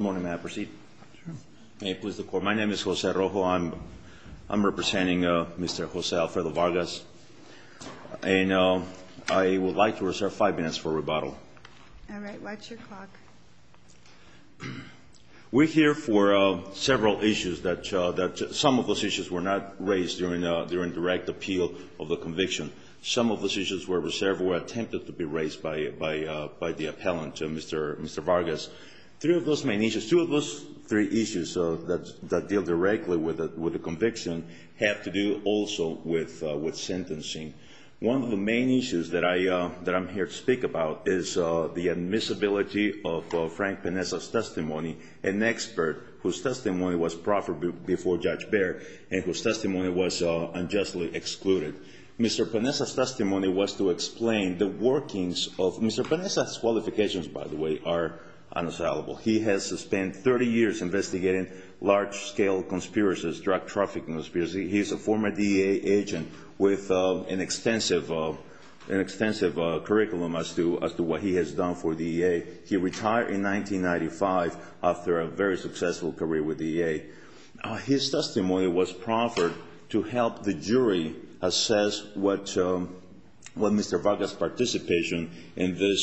Good morning, ma'am. Proceed. May it please the Court. My name is Jose Rojo. I'm representing Mr. Jose Alfredo Vargas. And I would like to reserve five minutes for rebuttal. All right. Watch your clock. We're here for several issues that some of those issues were not raised during direct appeal of the conviction. Some of those issues were reserved or attempted to be raised by the appellant, Mr. Vargas. Three of those main issues, two of those three issues that deal directly with the conviction have to do also with sentencing. One of the main issues that I'm here to speak about is the admissibility of Frank Peneza's testimony, an expert, whose testimony was proffered before Judge Baird and whose testimony was unjustly excluded. Mr. Peneza's testimony was to explain the workings of Mr. Peneza's qualifications, by the way, are unassailable. He has spent 30 years investigating large-scale conspiracies, drug trafficking conspiracies. He's a former DEA agent with an extensive curriculum as to what he has done for DEA. He retired in 1995 after a very successful career with DEA. His testimony was proffered to help the jury assess what Mr. Vargas' participation in this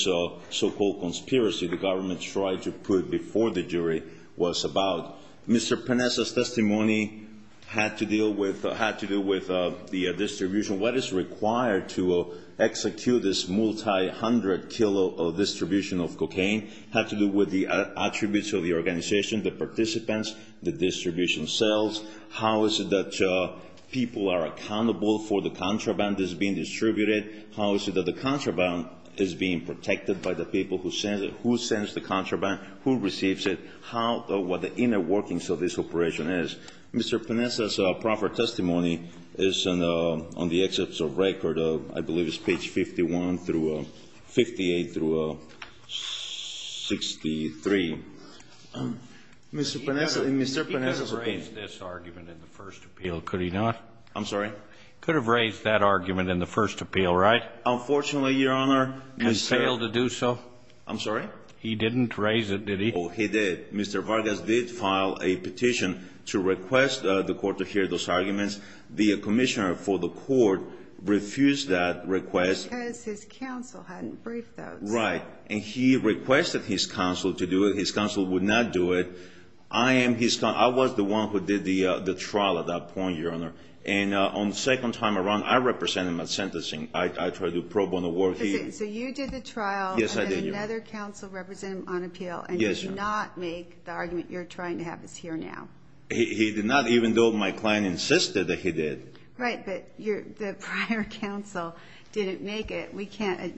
so-called conspiracy the government tried to put before the jury was about. Mr. Peneza's testimony had to do with the distribution, what is required to execute this multi-hundred kilo distribution of cocaine, had to do with the attributes of the organization, the participants, the distribution cells, how is it that people are accountable for the contraband that's being distributed, how is it that the contraband is being protected by the people who send it, who sends the contraband, who receives it, what the inner workings of this operation is. Mr. Peneza's proffered testimony is on the excerpts of record, I believe it's page 51 through 58 through 63. Mr. Peneza's appeal. He could have raised this argument in the first appeal, could he not? I'm sorry? He could have raised that argument in the first appeal, right? Unfortunately, Your Honor, Mr. He failed to do so? I'm sorry? He didn't raise it, did he? Oh, he did. Mr. Vargas did file a petition to request the court to hear those arguments. The commissioner for the court refused that request. Because his counsel hadn't briefed those. Right. And he requested his counsel to do it. His counsel would not do it. I am his counsel. I was the one who did the trial at that point, Your Honor. And on the second time around, I represented him at sentencing. I tried to probe on the work. So you did the trial. Yes, I did, Your Honor. And another counsel represented him on appeal. Yes, Your Honor. And he did not make the argument you're trying to have us hear now. He did not, even though my client insisted that he did. Right. But the prior counsel didn't make it. We can't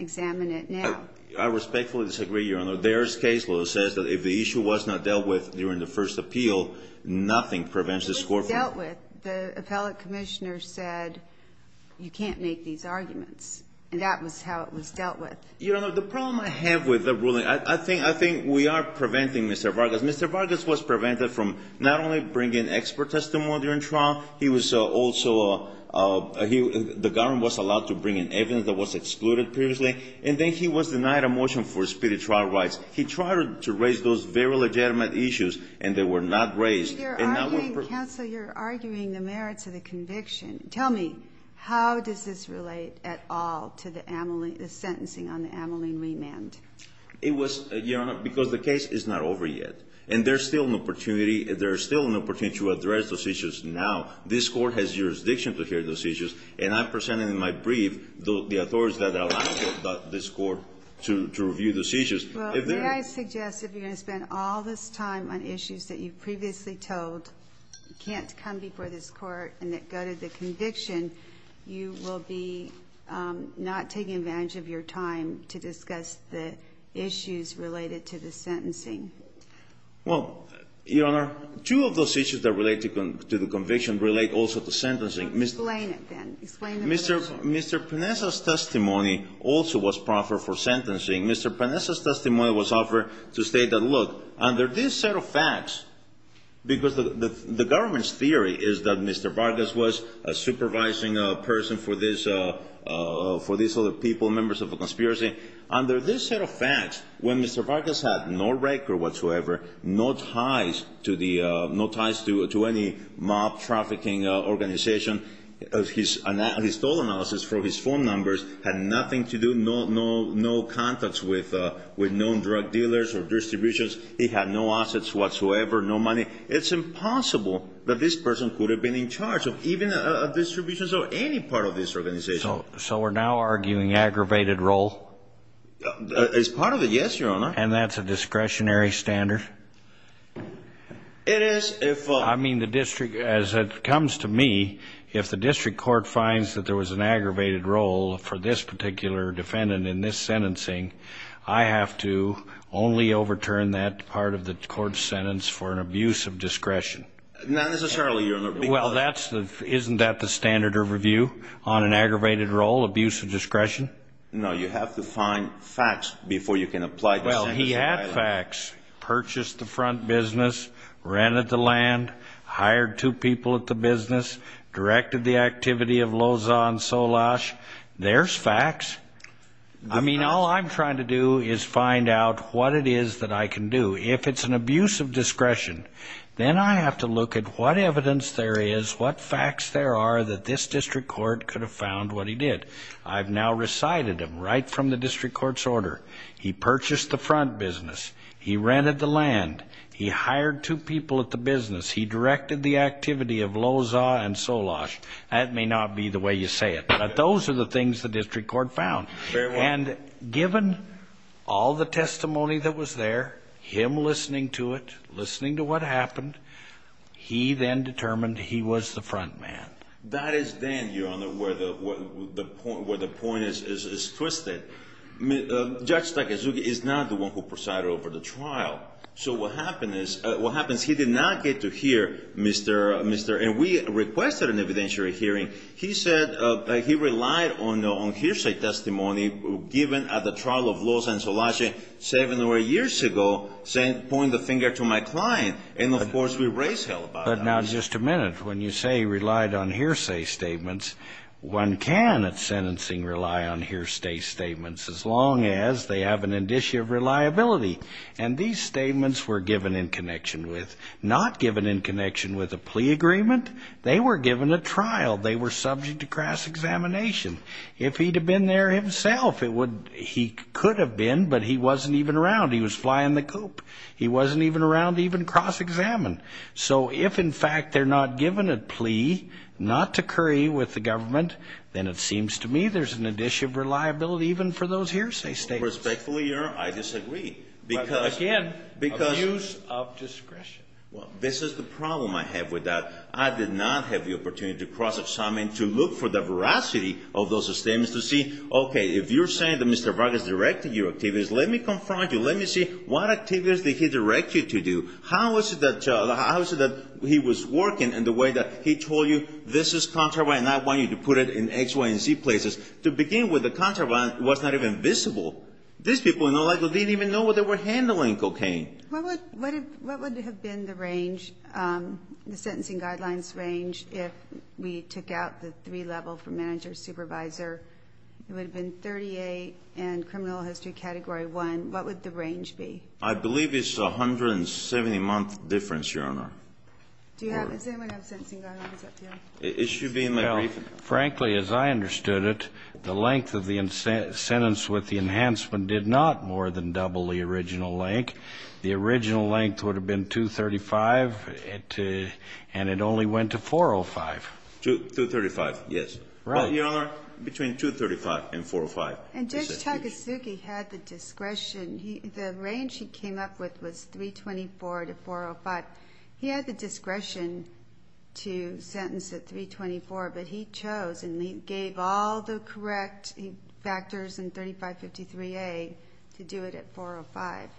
examine it now. I respectfully disagree, Your Honor. Their case law says that if the issue was not dealt with during the first appeal, nothing prevents the score. It was dealt with. The appellate commissioner said, you can't make these arguments. And that was how it was dealt with. Your Honor, the problem I have with the ruling, I think we are preventing Mr. Vargas. Mr. Vargas was prevented from not only bringing expert testimony during trial, he was also the government was allowed to bring in evidence that was excluded previously, and then he was denied a motion for speedy trial rights. He tried to raise those very legitimate issues, and they were not raised. Counsel, you're arguing the merits of the conviction. Tell me, how does this relate at all to the sentencing on the Ameline remand? It was, Your Honor, because the case is not over yet. And there's still an opportunity. There's still an opportunity to address those issues now. This Court has jurisdiction to hear those issues, and I presented in my brief the authorities that allow this Court to review the seizures. Well, may I suggest if you're going to spend all this time on issues that you previously told can't come before this Court and that go to the conviction, you will be not taking advantage of your time to discuss the issues related to the sentencing? Well, Your Honor, two of those issues that relate to the conviction relate also to sentencing. Explain it, then. Explain it. Mr. Pinesa's testimony also was proffered for sentencing. Mr. Pinesa's testimony was offered to state that, look, under this set of facts, because the government's theory is that Mr. Vargas was a supervising person for these other people, members of the conspiracy, under this set of facts, when Mr. Vargas had no record whatsoever, no ties to any mob trafficking organization, his total analysis from his phone numbers had nothing to do, no contacts with known drug dealers or distributions. He had no assets whatsoever, no money. It's impossible that this person could have been in charge of even distributions or any part of this organization. So we're now arguing aggravated role? As part of it, yes, Your Honor. And that's a discretionary standard? It is. I mean, the district, as it comes to me, if the district court finds that there was an aggravated role for this particular defendant in this sentencing, I have to only overturn that part of the court's sentence for an abuse of discretion. Not necessarily, Your Honor. Well, isn't that the standard of review on an aggravated role, abuse of discretion? No, you have to find facts before you can apply the sentencing. Well, he had facts. Purchased the front business, rented the land, hired two people at the business, directed the activity of Loza and Solash. There's facts. I mean, all I'm trying to do is find out what it is that I can do. If it's an abuse of discretion, then I have to look at what evidence there is, what facts there are that this district court could have found what he did. I've now recited him right from the district court's order. He purchased the front business. He rented the land. He hired two people at the business. He directed the activity of Loza and Solash. That may not be the way you say it, but those are the things the district court found. Fair enough. And given all the testimony that was there, him listening to it, listening to what happened, he then determined he was the front man. That is then, Your Honor, where the point is twisted. Judge Takezugi is not the one who presided over the trial. So what happens is he did not get to hear Mr. And we requested an evidentiary hearing. He said he relied on hearsay testimony given at the trial of Loza and Solash seven or eight years ago, saying point the finger to my client. And, of course, we raised hell about that. But now just a minute. When you say relied on hearsay statements, one can at sentencing rely on hearsay statements, as long as they have an indicia of reliability. And these statements were given in connection with, not given in connection with a plea agreement. They were given at trial. They were subject to cross-examination. If he'd have been there himself, he could have been, but he wasn't even around. He was flying the coop. He wasn't even around to even cross-examine. So if, in fact, they're not given a plea not to curry with the government, then it seems to me there's an indicia of reliability even for those hearsay statements. Respectfully, Your Honor, I disagree. Again, abuse of discretion. This is the problem I have with that. I did not have the opportunity to cross-examine, to look for the veracity of those statements, to see, okay, if you're saying that Mr. Vargas directed your activities, let me confront you. Let me see what activities did he direct you to do. How is it that he was working in the way that he told you this is contraband and I want you to put it in X, Y, and Z places? To begin with, the contraband was not even visible. These people, in all likelihood, didn't even know what they were handling cocaine. What would have been the range, the sentencing guidelines range, if we took out the three-level for manager, supervisor? It would have been 38 and criminal history Category 1. What would the range be? I believe it's 170-month difference, Your Honor. Does anyone have a sentencing guideline? It should be in the briefing. Frankly, as I understood it, the length of the sentence with the enhancement did not more than double the original length. The original length would have been 235, and it only went to 405. 235, yes. Right. Your Honor, between 235 and 405. And Judge Takasugi had the discretion. The range he came up with was 324 to 405. He had the discretion to sentence at 324, but he chose and he gave all the correct factors in 3553A to do it at 405.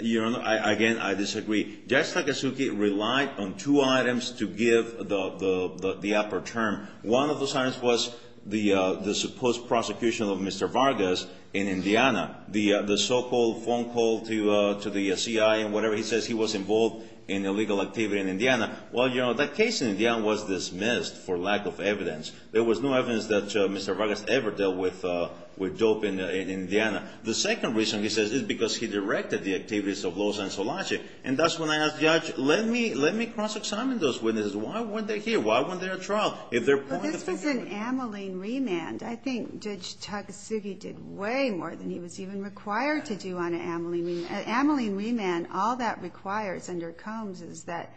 Your Honor, again, I disagree. Judge Takasugi relied on two items to give the upper term. One of those items was the supposed prosecution of Mr. Vargas in Indiana. The so-called phone call to the CIA and whatever. He says he was involved in illegal activity in Indiana. Well, you know, that case in Indiana was dismissed for lack of evidence. There was no evidence that Mr. Vargas ever dealt with dope in Indiana. The second reason, he says, is because he directed the activities of Loza and Solange. And that's when I asked the judge, let me cross-examine those witnesses. Why weren't they here? Why weren't they at trial? Well, this was an amyling remand. I think Judge Takasugi did way more than he was even required to do on an amyling remand. An amyling remand, all that requires under Combs is that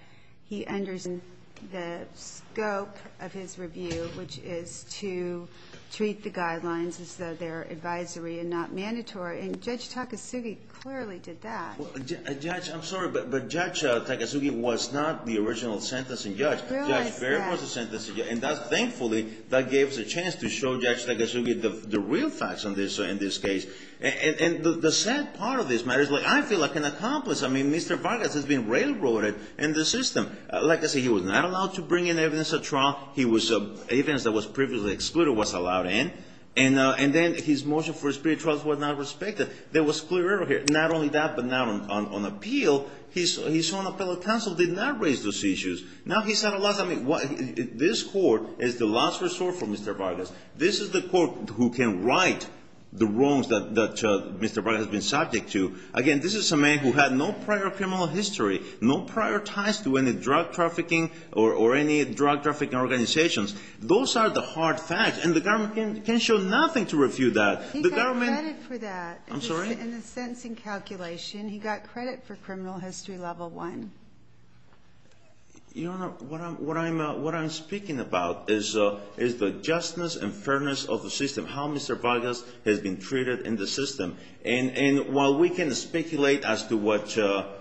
he understands the scope of his review, which is to treat the guidelines as though they're advisory and not mandatory. And Judge Takasugi clearly did that. Well, Judge, I'm sorry, but Judge Takasugi was not the original sentencing judge. I realize that. And thus, thankfully, that gives a chance to show Judge Takasugi the real facts in this case. And the sad part of this matter is I feel like an accomplice. I mean, Mr. Vargas has been railroaded in the system. Like I said, he was not allowed to bring in evidence at trial. Evidence that was previously excluded was allowed in. And then his motion for a spirit trial was not respected. There was clear error here, not only that, but now on appeal, his own appellate counsel did not raise those issues. Now he said a lot of things. This court is the last resort for Mr. Vargas. This is the court who can right the wrongs that Mr. Vargas has been subject to. Again, this is a man who had no prior criminal history, no prior ties to any drug trafficking or any drug trafficking organizations. Those are the hard facts, and the government can show nothing to refute that. He got credit for that. I'm sorry? In the sentencing calculation, he got credit for criminal history level one. Your Honor, what I'm speaking about is the justness and fairness of the system, how Mr. Vargas has been treated in the system. And while we can speculate as to whether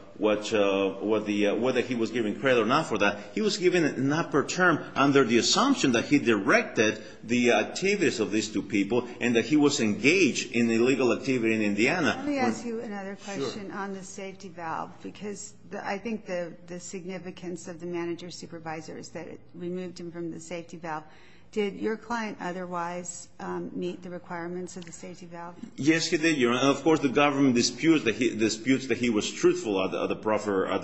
he was given credit or not for that, he was given it not per term under the assumption that he directed the activities of these two people and that he was engaged in illegal activity in Indiana. Let me ask you another question on the safety valve because I think the significance of the manager-supervisor is that it removed him from the safety valve. Did your client otherwise meet the requirements of the safety valve? Yes, he did, Your Honor. Of course, the government disputes that he was truthful at the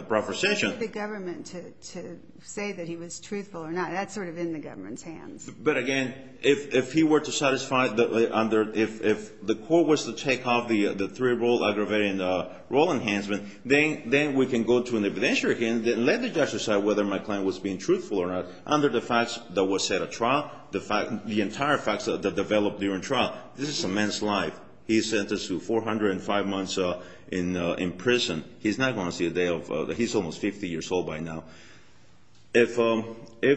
proper session. Why would the government say that he was truthful or not? That's sort of in the government's hands. But, again, if he were to satisfy under if the court was to take off the three-rule aggravating rule enhancement, then we can go to an evidentiary hearing and let the judge decide whether my client was being truthful or not under the facts that were set at trial, the entire facts that developed during trial. This is a man's life. He's sentenced to 405 months in prison. He's not going to see a day ofóhe's almost 50 years old by now. If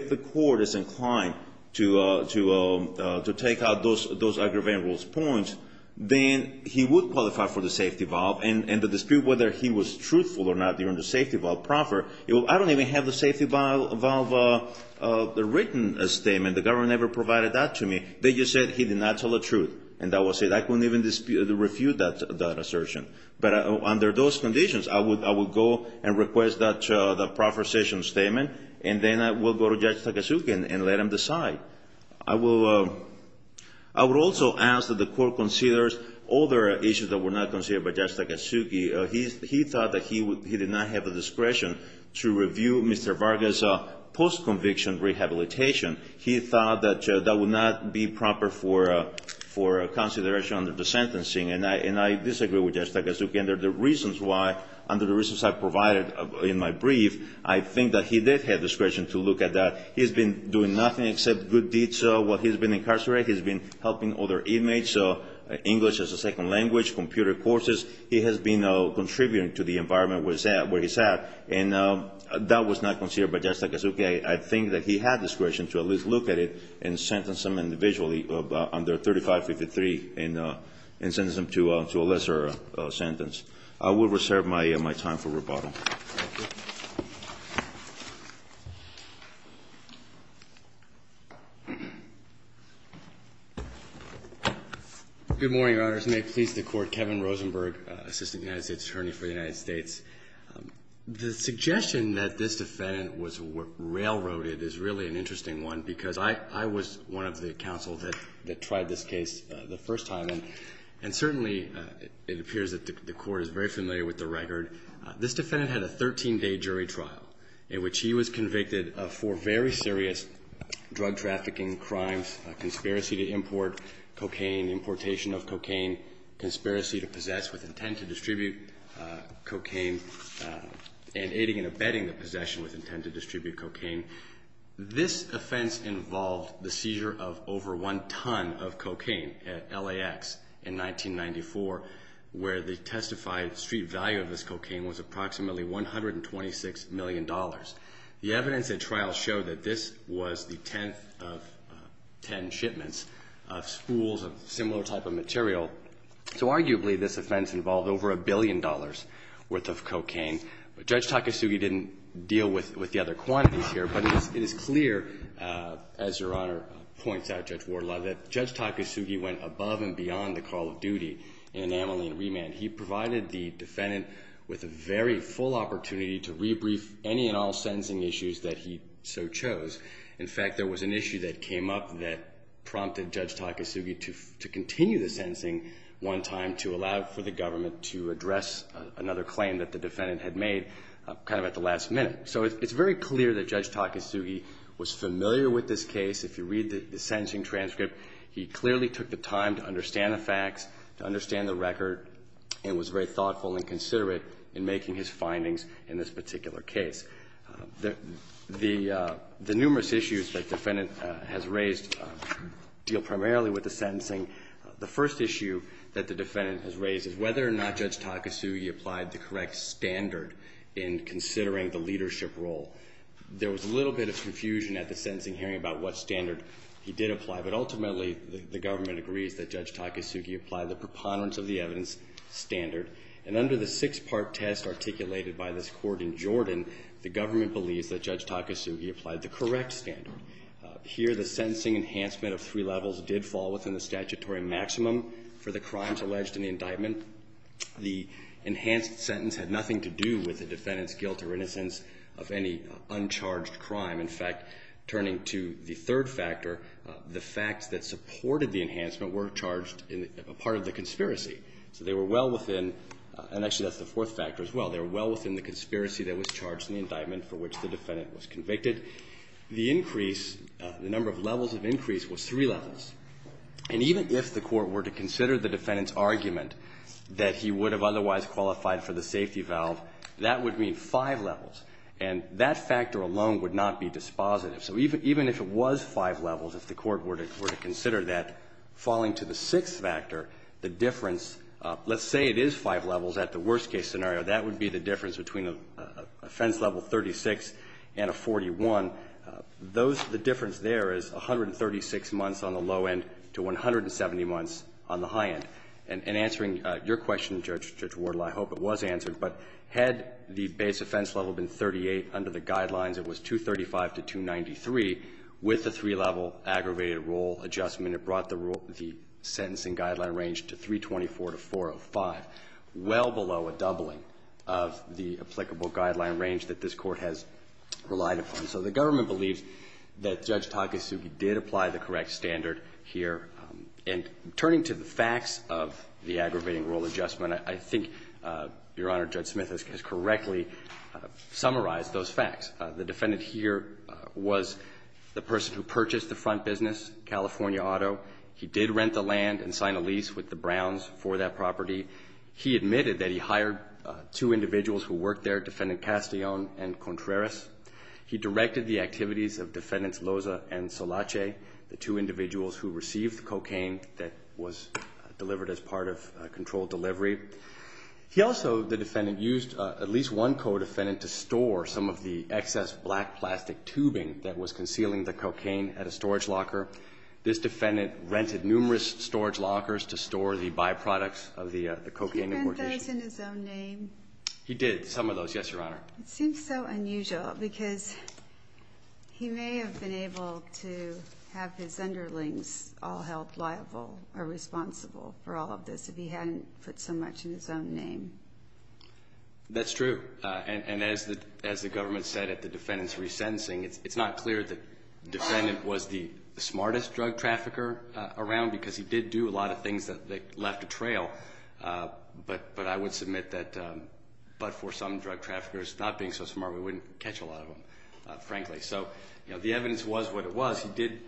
the court is inclined to take out those aggravating rules points, then he would qualify for the safety valve. And the dispute whether he was truthful or not during the safety valve profferó I don't even have the safety valve written statement. The government never provided that to me. They just said he did not tell the truth, and that was it. I couldn't even dispute or refute that assertion. But under those conditions, I would go and request that proffer session statement, and then I will go to Judge Takasugi and let him decide. I would also ask that the court considers other issues that were not considered by Judge Takasugi. He thought that he did not have the discretion to review Mr. Vargas' post-conviction rehabilitation. He thought that that would not be proper for consideration under the sentencing, and I disagree with Judge Takasugi under the reasons whyó under the reasons I provided in my brief, I think that he did have discretion to look at that. He's been doing nothing except good deeds while he's been incarcerated. He's been helping other inmatesóEnglish as a second language, computer courses. He has been contributing to the environment where he's at, and that was not considered by Judge Takasugi. I think that he had discretion to at least look at it and sentence him individually under 3553 and sentence him to a lesser sentence. I will reserve my time for rebuttal. Roberts. Good morning, Your Honors. May it please the Court. Kevin Rosenberg, Assistant United States Attorney for the United States. The suggestion that this defendant was railroaded is really an interesting one because I was one of the counsel that tried this case the first time, and certainly it appears that the Court is very familiar with the record. This defendant had a 13-day jury trial in which he was convicted of four very serious drug trafficking crimes, conspiracy to import cocaine, importation of cocaine, conspiracy to possess with intent to distribute cocaine, and aiding and abetting the possession with intent to distribute cocaine. This offense involved the seizure of over one ton of cocaine at LAX in 1994, where the testified street value of this cocaine was approximately $126 million. The evidence at trial showed that this was the tenth of ten shipments of spools of similar type of material, so arguably this offense involved over a billion dollars' worth of cocaine. But Judge Takasugi didn't deal with the other quantities here, but it is clear, as Your Honor points out, Judge Wardlaw, that Judge Takasugi went above and beyond the call of duty in enameling and remand. He provided the defendant with a very full opportunity to rebrief any and all sentencing issues that he so chose. In fact, there was an issue that came up that prompted Judge Takasugi to continue the sentencing one time to allow for the government to address another claim that the defendant had made kind of at the last minute. So it's very clear that Judge Takasugi was familiar with this case. If you read the sentencing transcript, he clearly took the time to understand the facts, to understand the record, and was very thoughtful and considerate in making his findings in this particular case. The numerous issues that the defendant has raised deal primarily with the sentencing. The first issue that the defendant has raised is whether or not Judge Takasugi applied the correct standard in considering the leadership role. There was a little bit of confusion at the sentencing hearing about what standard he did apply, but ultimately the government agrees that Judge Takasugi applied the preponderance of the evidence standard. And under the six-part test articulated by this court in Jordan, the government believes that Judge Takasugi applied the correct standard. Here, the sentencing enhancement of three levels did fall within the statutory maximum for the crimes alleged in the indictment. The enhanced sentence had nothing to do with the defendant's guilt or innocence of any uncharged crime. In fact, turning to the third factor, the facts that supported the enhancement were charged in part of the conspiracy. So they were well within, and actually that's the fourth factor as well, they were well within the conspiracy that was charged in the indictment for which the defendant was convicted. The increase, the number of levels of increase, was three levels. And even if the court were to consider the defendant's argument that he would have otherwise qualified for the safety valve, that would mean five levels. And that factor alone would not be dispositive. So even if it was five levels, if the court were to consider that, falling to the difference, let's say it is five levels at the worst-case scenario. That would be the difference between a offense level 36 and a 41. Those, the difference there is 136 months on the low end to 170 months on the high end. And answering your question, Judge Wardle, I hope it was answered, but had the base offense level been 38 under the guidelines, it was 235 to 293. With the three-level aggravated rule adjustment, it brought the rule, the sentencing guideline range to 324 to 405, well below a doubling of the applicable guideline range that this Court has relied upon. So the government believes that Judge Takasugi did apply the correct standard here. And turning to the facts of the aggravating rule adjustment, I think, Your Honor, Judge Smith has correctly summarized those facts. The defendant here was the person who purchased the front business, California Auto. He did rent the land and sign a lease with the Browns for that property. He admitted that he hired two individuals who worked there, Defendant Castillon and Contreras. He directed the activities of Defendants Loza and Solache, the two individuals who received the cocaine that was delivered as part of a controlled delivery. He also, the defendant, used at least one co-defendant to store some of the excess black plastic tubing that was concealing the cocaine at a storage locker. This defendant rented numerous storage lockers to store the byproducts of the Did he put those in his own name? He did, some of those, yes, Your Honor. It seems so unusual because he may have been able to have his underlings all held liable or responsible for all of this if he hadn't put so much in his own name. That's true. And as the government said at the defendant's resentencing, it's not clear the smartest drug trafficker around because he did do a lot of things that left a trail. But I would submit that but for some drug traffickers, not being so smart, we wouldn't catch a lot of them, frankly. So the evidence was what it was. He did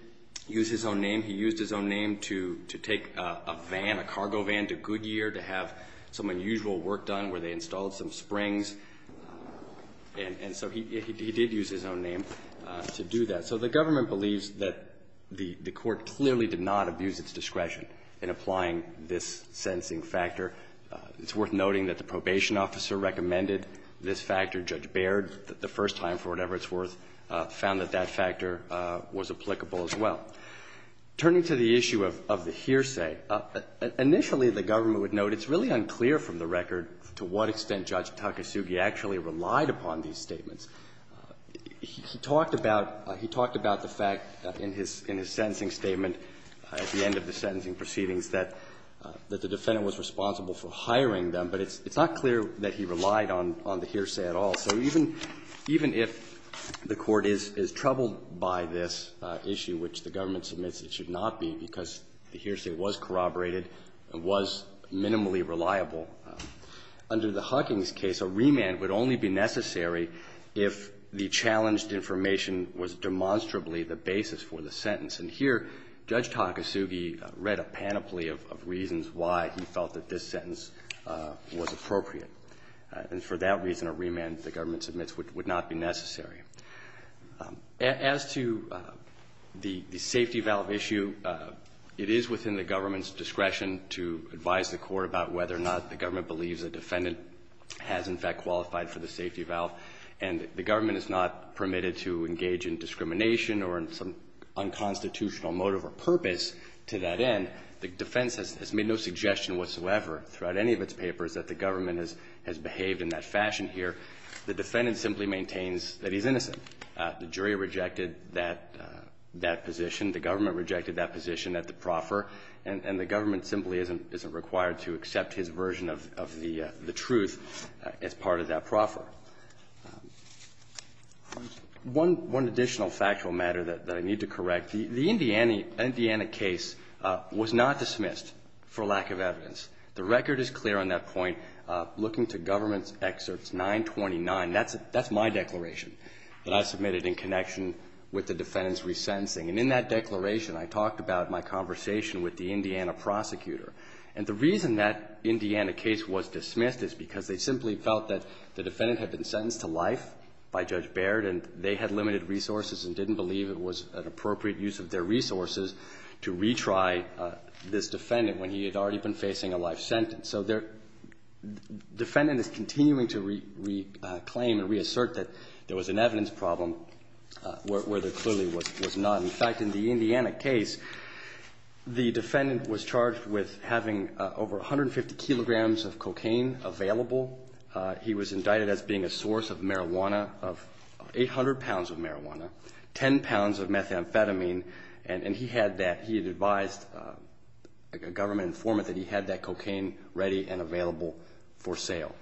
use his own name. He used his own name to take a van, a cargo van to Goodyear to have some unusual work done where they installed some springs. And so he did use his own name to do that. So the government believes that the court clearly did not abuse its discretion in applying this sentencing factor. It's worth noting that the probation officer recommended this factor. Judge Baird, the first time for whatever it's worth, found that that factor was applicable as well. Turning to the issue of the hearsay, initially the government would note it's really unclear from the record to what extent Judge Takasugi actually relied upon these statements. He talked about the fact in his sentencing statement at the end of the sentencing proceedings that the defendant was responsible for hiring them. But it's not clear that he relied on the hearsay at all. So even if the Court is troubled by this issue, which the government submits it should not be, because the hearsay was corroborated and was minimally reliable. Under the Huggins case, a remand would only be necessary if the challenged information was demonstrably the basis for the sentence. And here, Judge Takasugi read a panoply of reasons why he felt that this sentence was appropriate. And for that reason, a remand, the government submits, would not be necessary. As to the safety valve issue, it is within the government's discretion to advise the Court about whether or not the government believes a defendant has, in fact, qualified for the safety valve. And the government is not permitted to engage in discrimination or in some unconstitutional motive or purpose to that end. The defense has made no suggestion whatsoever throughout any of its papers that the government has behaved in that fashion here. The defendant simply maintains that he's innocent. The jury rejected that position. The government rejected that position at the proffer. And the government simply isn't required to accept his version of the truth as part of that proffer. One additional factual matter that I need to correct. The Indiana case was not dismissed for lack of evidence. The record is clear on that point. Looking to government's excerpts 929, that's my declaration that I submitted in connection with the defendant's resentencing. And in that declaration, I talked about my conversation with the Indiana prosecutor. And the reason that Indiana case was dismissed is because they simply felt that the defendant had been sentenced to life by Judge Baird, and they had limited resources and didn't believe it was an appropriate use of their resources to retry this defendant when he had already been facing a life sentence. So their defendant is continuing to reclaim and reassert that there was an evidence problem where there clearly was none. In fact, in the Indiana case, the defendant was charged with having over 150 kilograms of cocaine available. He was indicted as being a source of marijuana, of 800 pounds of marijuana, 10 pounds of methamphetamine. And he had that. He had advised a government informant that he had that cocaine ready and available for sale.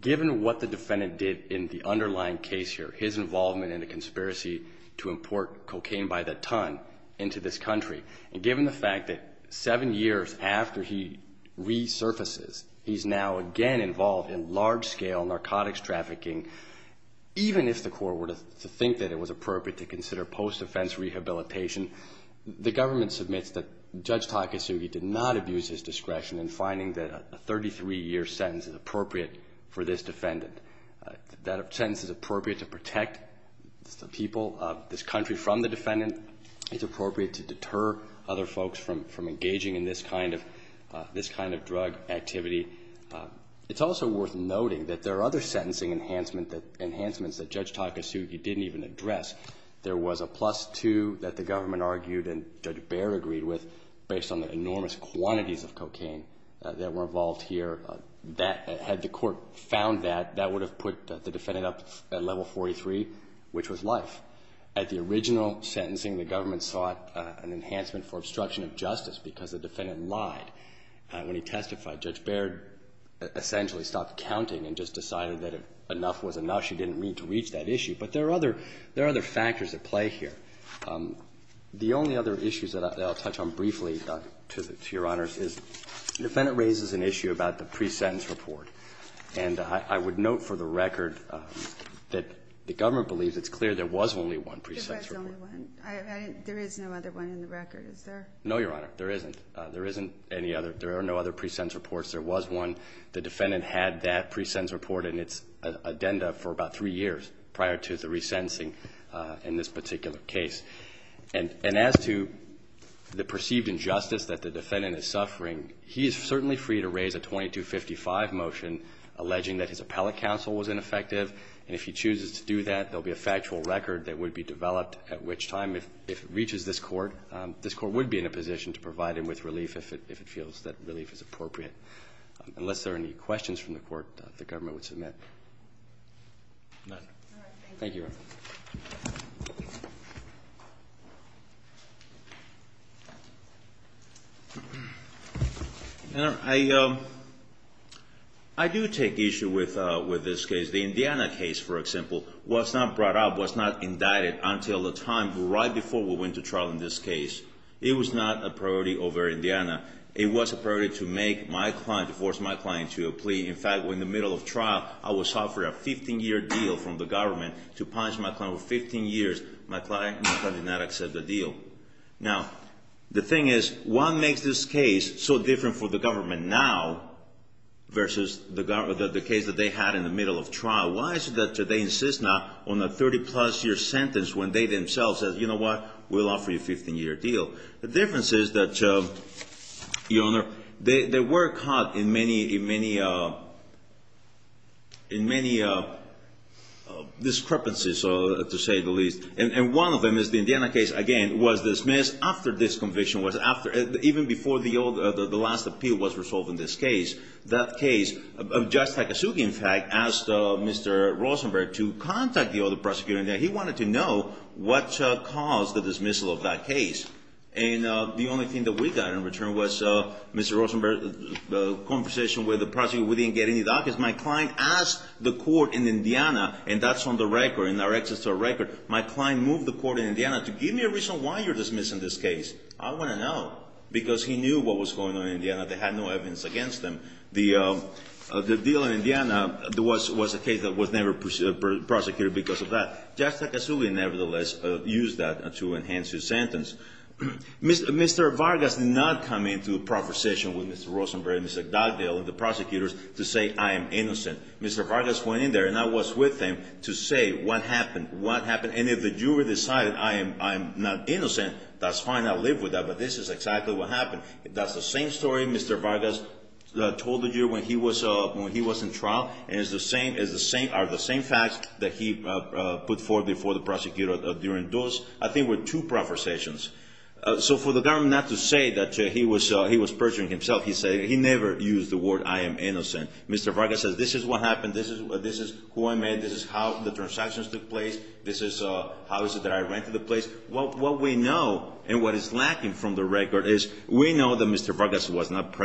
Given what the defendant did in the underlying case here, his involvement in the conspiracy to import cocaine by the ton into this country, and given the fact that seven years after he resurfaces, he's now again involved in large-scale narcotics trafficking, even if the court were to think that it was appropriate to consider post-offense rehabilitation, the government submits that Judge Takasugi did not for this defendant. That sentence is appropriate to protect the people of this country from the defendant. It's appropriate to deter other folks from engaging in this kind of drug activity. It's also worth noting that there are other sentencing enhancements that Judge Takasugi didn't even address. There was a plus two that the government argued and Judge Baer agreed with based on the enormous quantities of cocaine that were involved here. Had the court found that, that would have put the defendant up at level 43, which was life. At the original sentencing, the government sought an enhancement for obstruction of justice because the defendant lied. When he testified, Judge Baer essentially stopped counting and just decided that if enough was enough, she didn't need to reach that issue. But there are other factors at play here. The only other issues that I'll touch on briefly, Your Honor, is the defendant raises an issue about the pre-sentence report. And I would note for the record that the government believes it's clear there was only one pre-sentence report. There is no other one in the record, is there? No, Your Honor. There isn't. There isn't any other. There are no other pre-sentence reports. There was one. The defendant had that pre-sentence report in its addenda for about three years prior to the resentencing in this particular case. And as to the perceived injustice that the defendant is suffering, he is certainly free to raise a 2255 motion alleging that his appellate counsel was ineffective. And if he chooses to do that, there will be a factual record that would be developed, at which time if it reaches this Court, this Court would be in a position to provide him with relief if it feels that relief is appropriate. Unless there are any questions from the Court, the government would submit. None. All right. Thank you. Your Honor, I do take issue with this case. The Indiana case, for example, was not brought up, was not indicted until the time right before we went to trial in this case. It was not a priority over Indiana. It was a priority to make my client, to force my client to a plea. In fact, in the middle of trial, I was offered a 15-year deal from the government to punish my client for 15 years. My client did not accept the deal. Now, the thing is, what makes this case so different for the government now versus the case that they had in the middle of trial? Why is it that they insist now on a 30-plus year sentence when they themselves said, you know what, we'll offer you a 15-year deal? The difference is that, Your Honor, they were caught in many discrepancies, to say the least. And one of them is the Indiana case, again, was dismissed after this conviction, even before the last appeal was resolved in this case. That case, Judge Takasugi, in fact, asked Mr. Rosenberg to contact the other case. And the only thing that we got in return was Mr. Rosenberg's conversation with the prosecutor. We didn't get any documents. My client asked the court in Indiana, and that's on the record, in our access to the record. My client moved the court in Indiana to give me a reason why you're dismissing this case. I want to know, because he knew what was going on in Indiana. They had no evidence against them. The deal in Indiana was a case that was never prosecuted because of that. Judge Takasugi, nevertheless, used that to enhance his sentence. Mr. Vargas did not come into a conversation with Mr. Rosenberg and Mr. Dugdale and the prosecutors to say, I am innocent. Mr. Vargas went in there, and I was with him, to say, what happened? What happened? And if the jury decided I am not innocent, that's fine. I'll live with that. But this is exactly what happened. That's the same story Mr. Vargas told you when he was in trial. And it's the same facts that he put forth before the prosecutor during those, I think, were two proversations. So for the government not to say that he was perjuring himself, he never used the word I am innocent. Mr. Vargas said, this is what happened. This is who I met. This is how the transactions took place. This is how I rented the place. What we know and what is lacking from the record is we know that Mr. Vargas was not We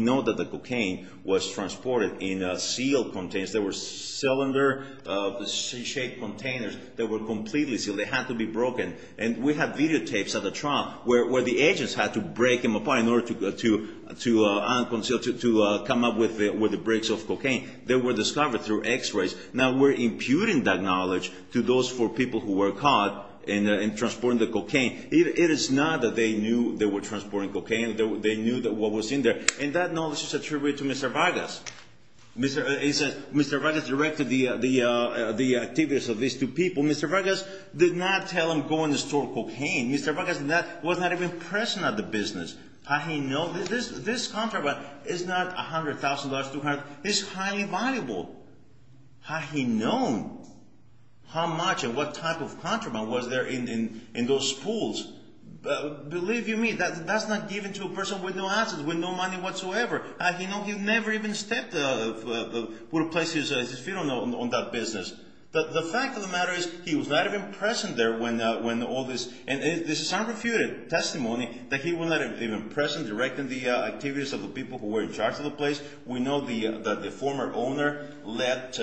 know that the cocaine was transported in sealed containers. They were cylinder-shaped containers that were completely sealed. They had to be broken. And we have videotapes of the trial where the agents had to break them apart in order to come up with the bricks of cocaine. They were discovered through x-rays. Now we're imputing that knowledge to those four people who were caught in transporting the cocaine. It is not that they knew they were transporting cocaine. They knew what was in there. And that knowledge is attributed to Mr. Vargas. Mr. Vargas directed the activities of these two people. Mr. Vargas did not tell them to go in and store cocaine. Mr. Vargas was not even present at the business. How he knew? This contraband is not $100,000, $200,000. This is highly valuable. How he knew? How much and what type of contraband was there in those pools? Believe you me, that's not given to a person with no assets, with no money whatsoever. How he knew? He never even stepped foot on that business. The fact of the matter is he was not even present there when all this. And this is unrefuted testimony that he was not even present directing the activities of the people who were in charge of the place. We know that the former owner left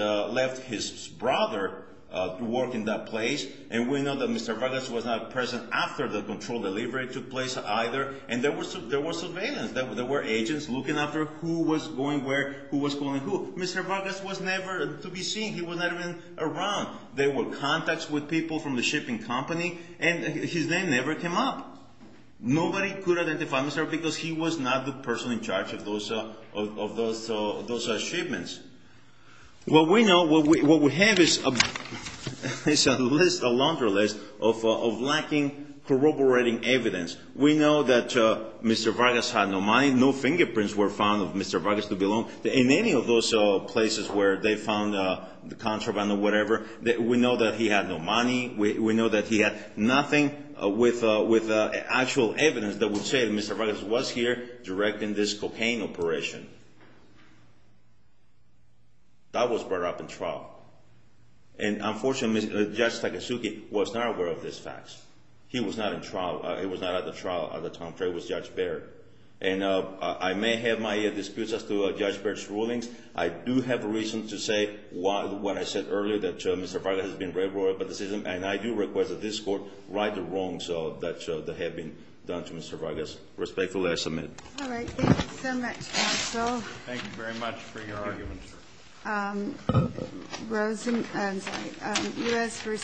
his brother to work in that place. And we know that Mr. Vargas was not present after the control delivery took place either. And there was surveillance. There were agents looking after who was going where, who was going who. Mr. Vargas was never to be seen. He was not even around. There were contacts with people from the shipping company. And his name never came up. Nobody could identify Mr. Vargas because he was not the person in charge of those shipments. What we know, what we have is a list, a laundry list of lacking corroborating evidence. We know that Mr. Vargas had no money. No fingerprints were found of Mr. Vargas to belong in any of those places where they found the contraband or whatever. We know that he had no money. We know that he had nothing with actual evidence that would say that Mr. Vargas was here directing this cocaine operation. That was brought up in trial. And unfortunately, Judge Takasugi was not aware of these facts. He was not in trial. He was not at the trial at the time. It was Judge Baird. I do have a reason to say what I said earlier, that Mr. Vargas has been very loyal to the system. And I do request that this Court right the wrongs that have been done to Mr. Vargas. Respectfully, I submit. All right. Thank you so much, counsel. Thank you very much for your argument, sir. Rosen, I'm sorry. U.S. v.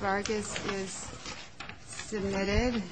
Vargas is submitted.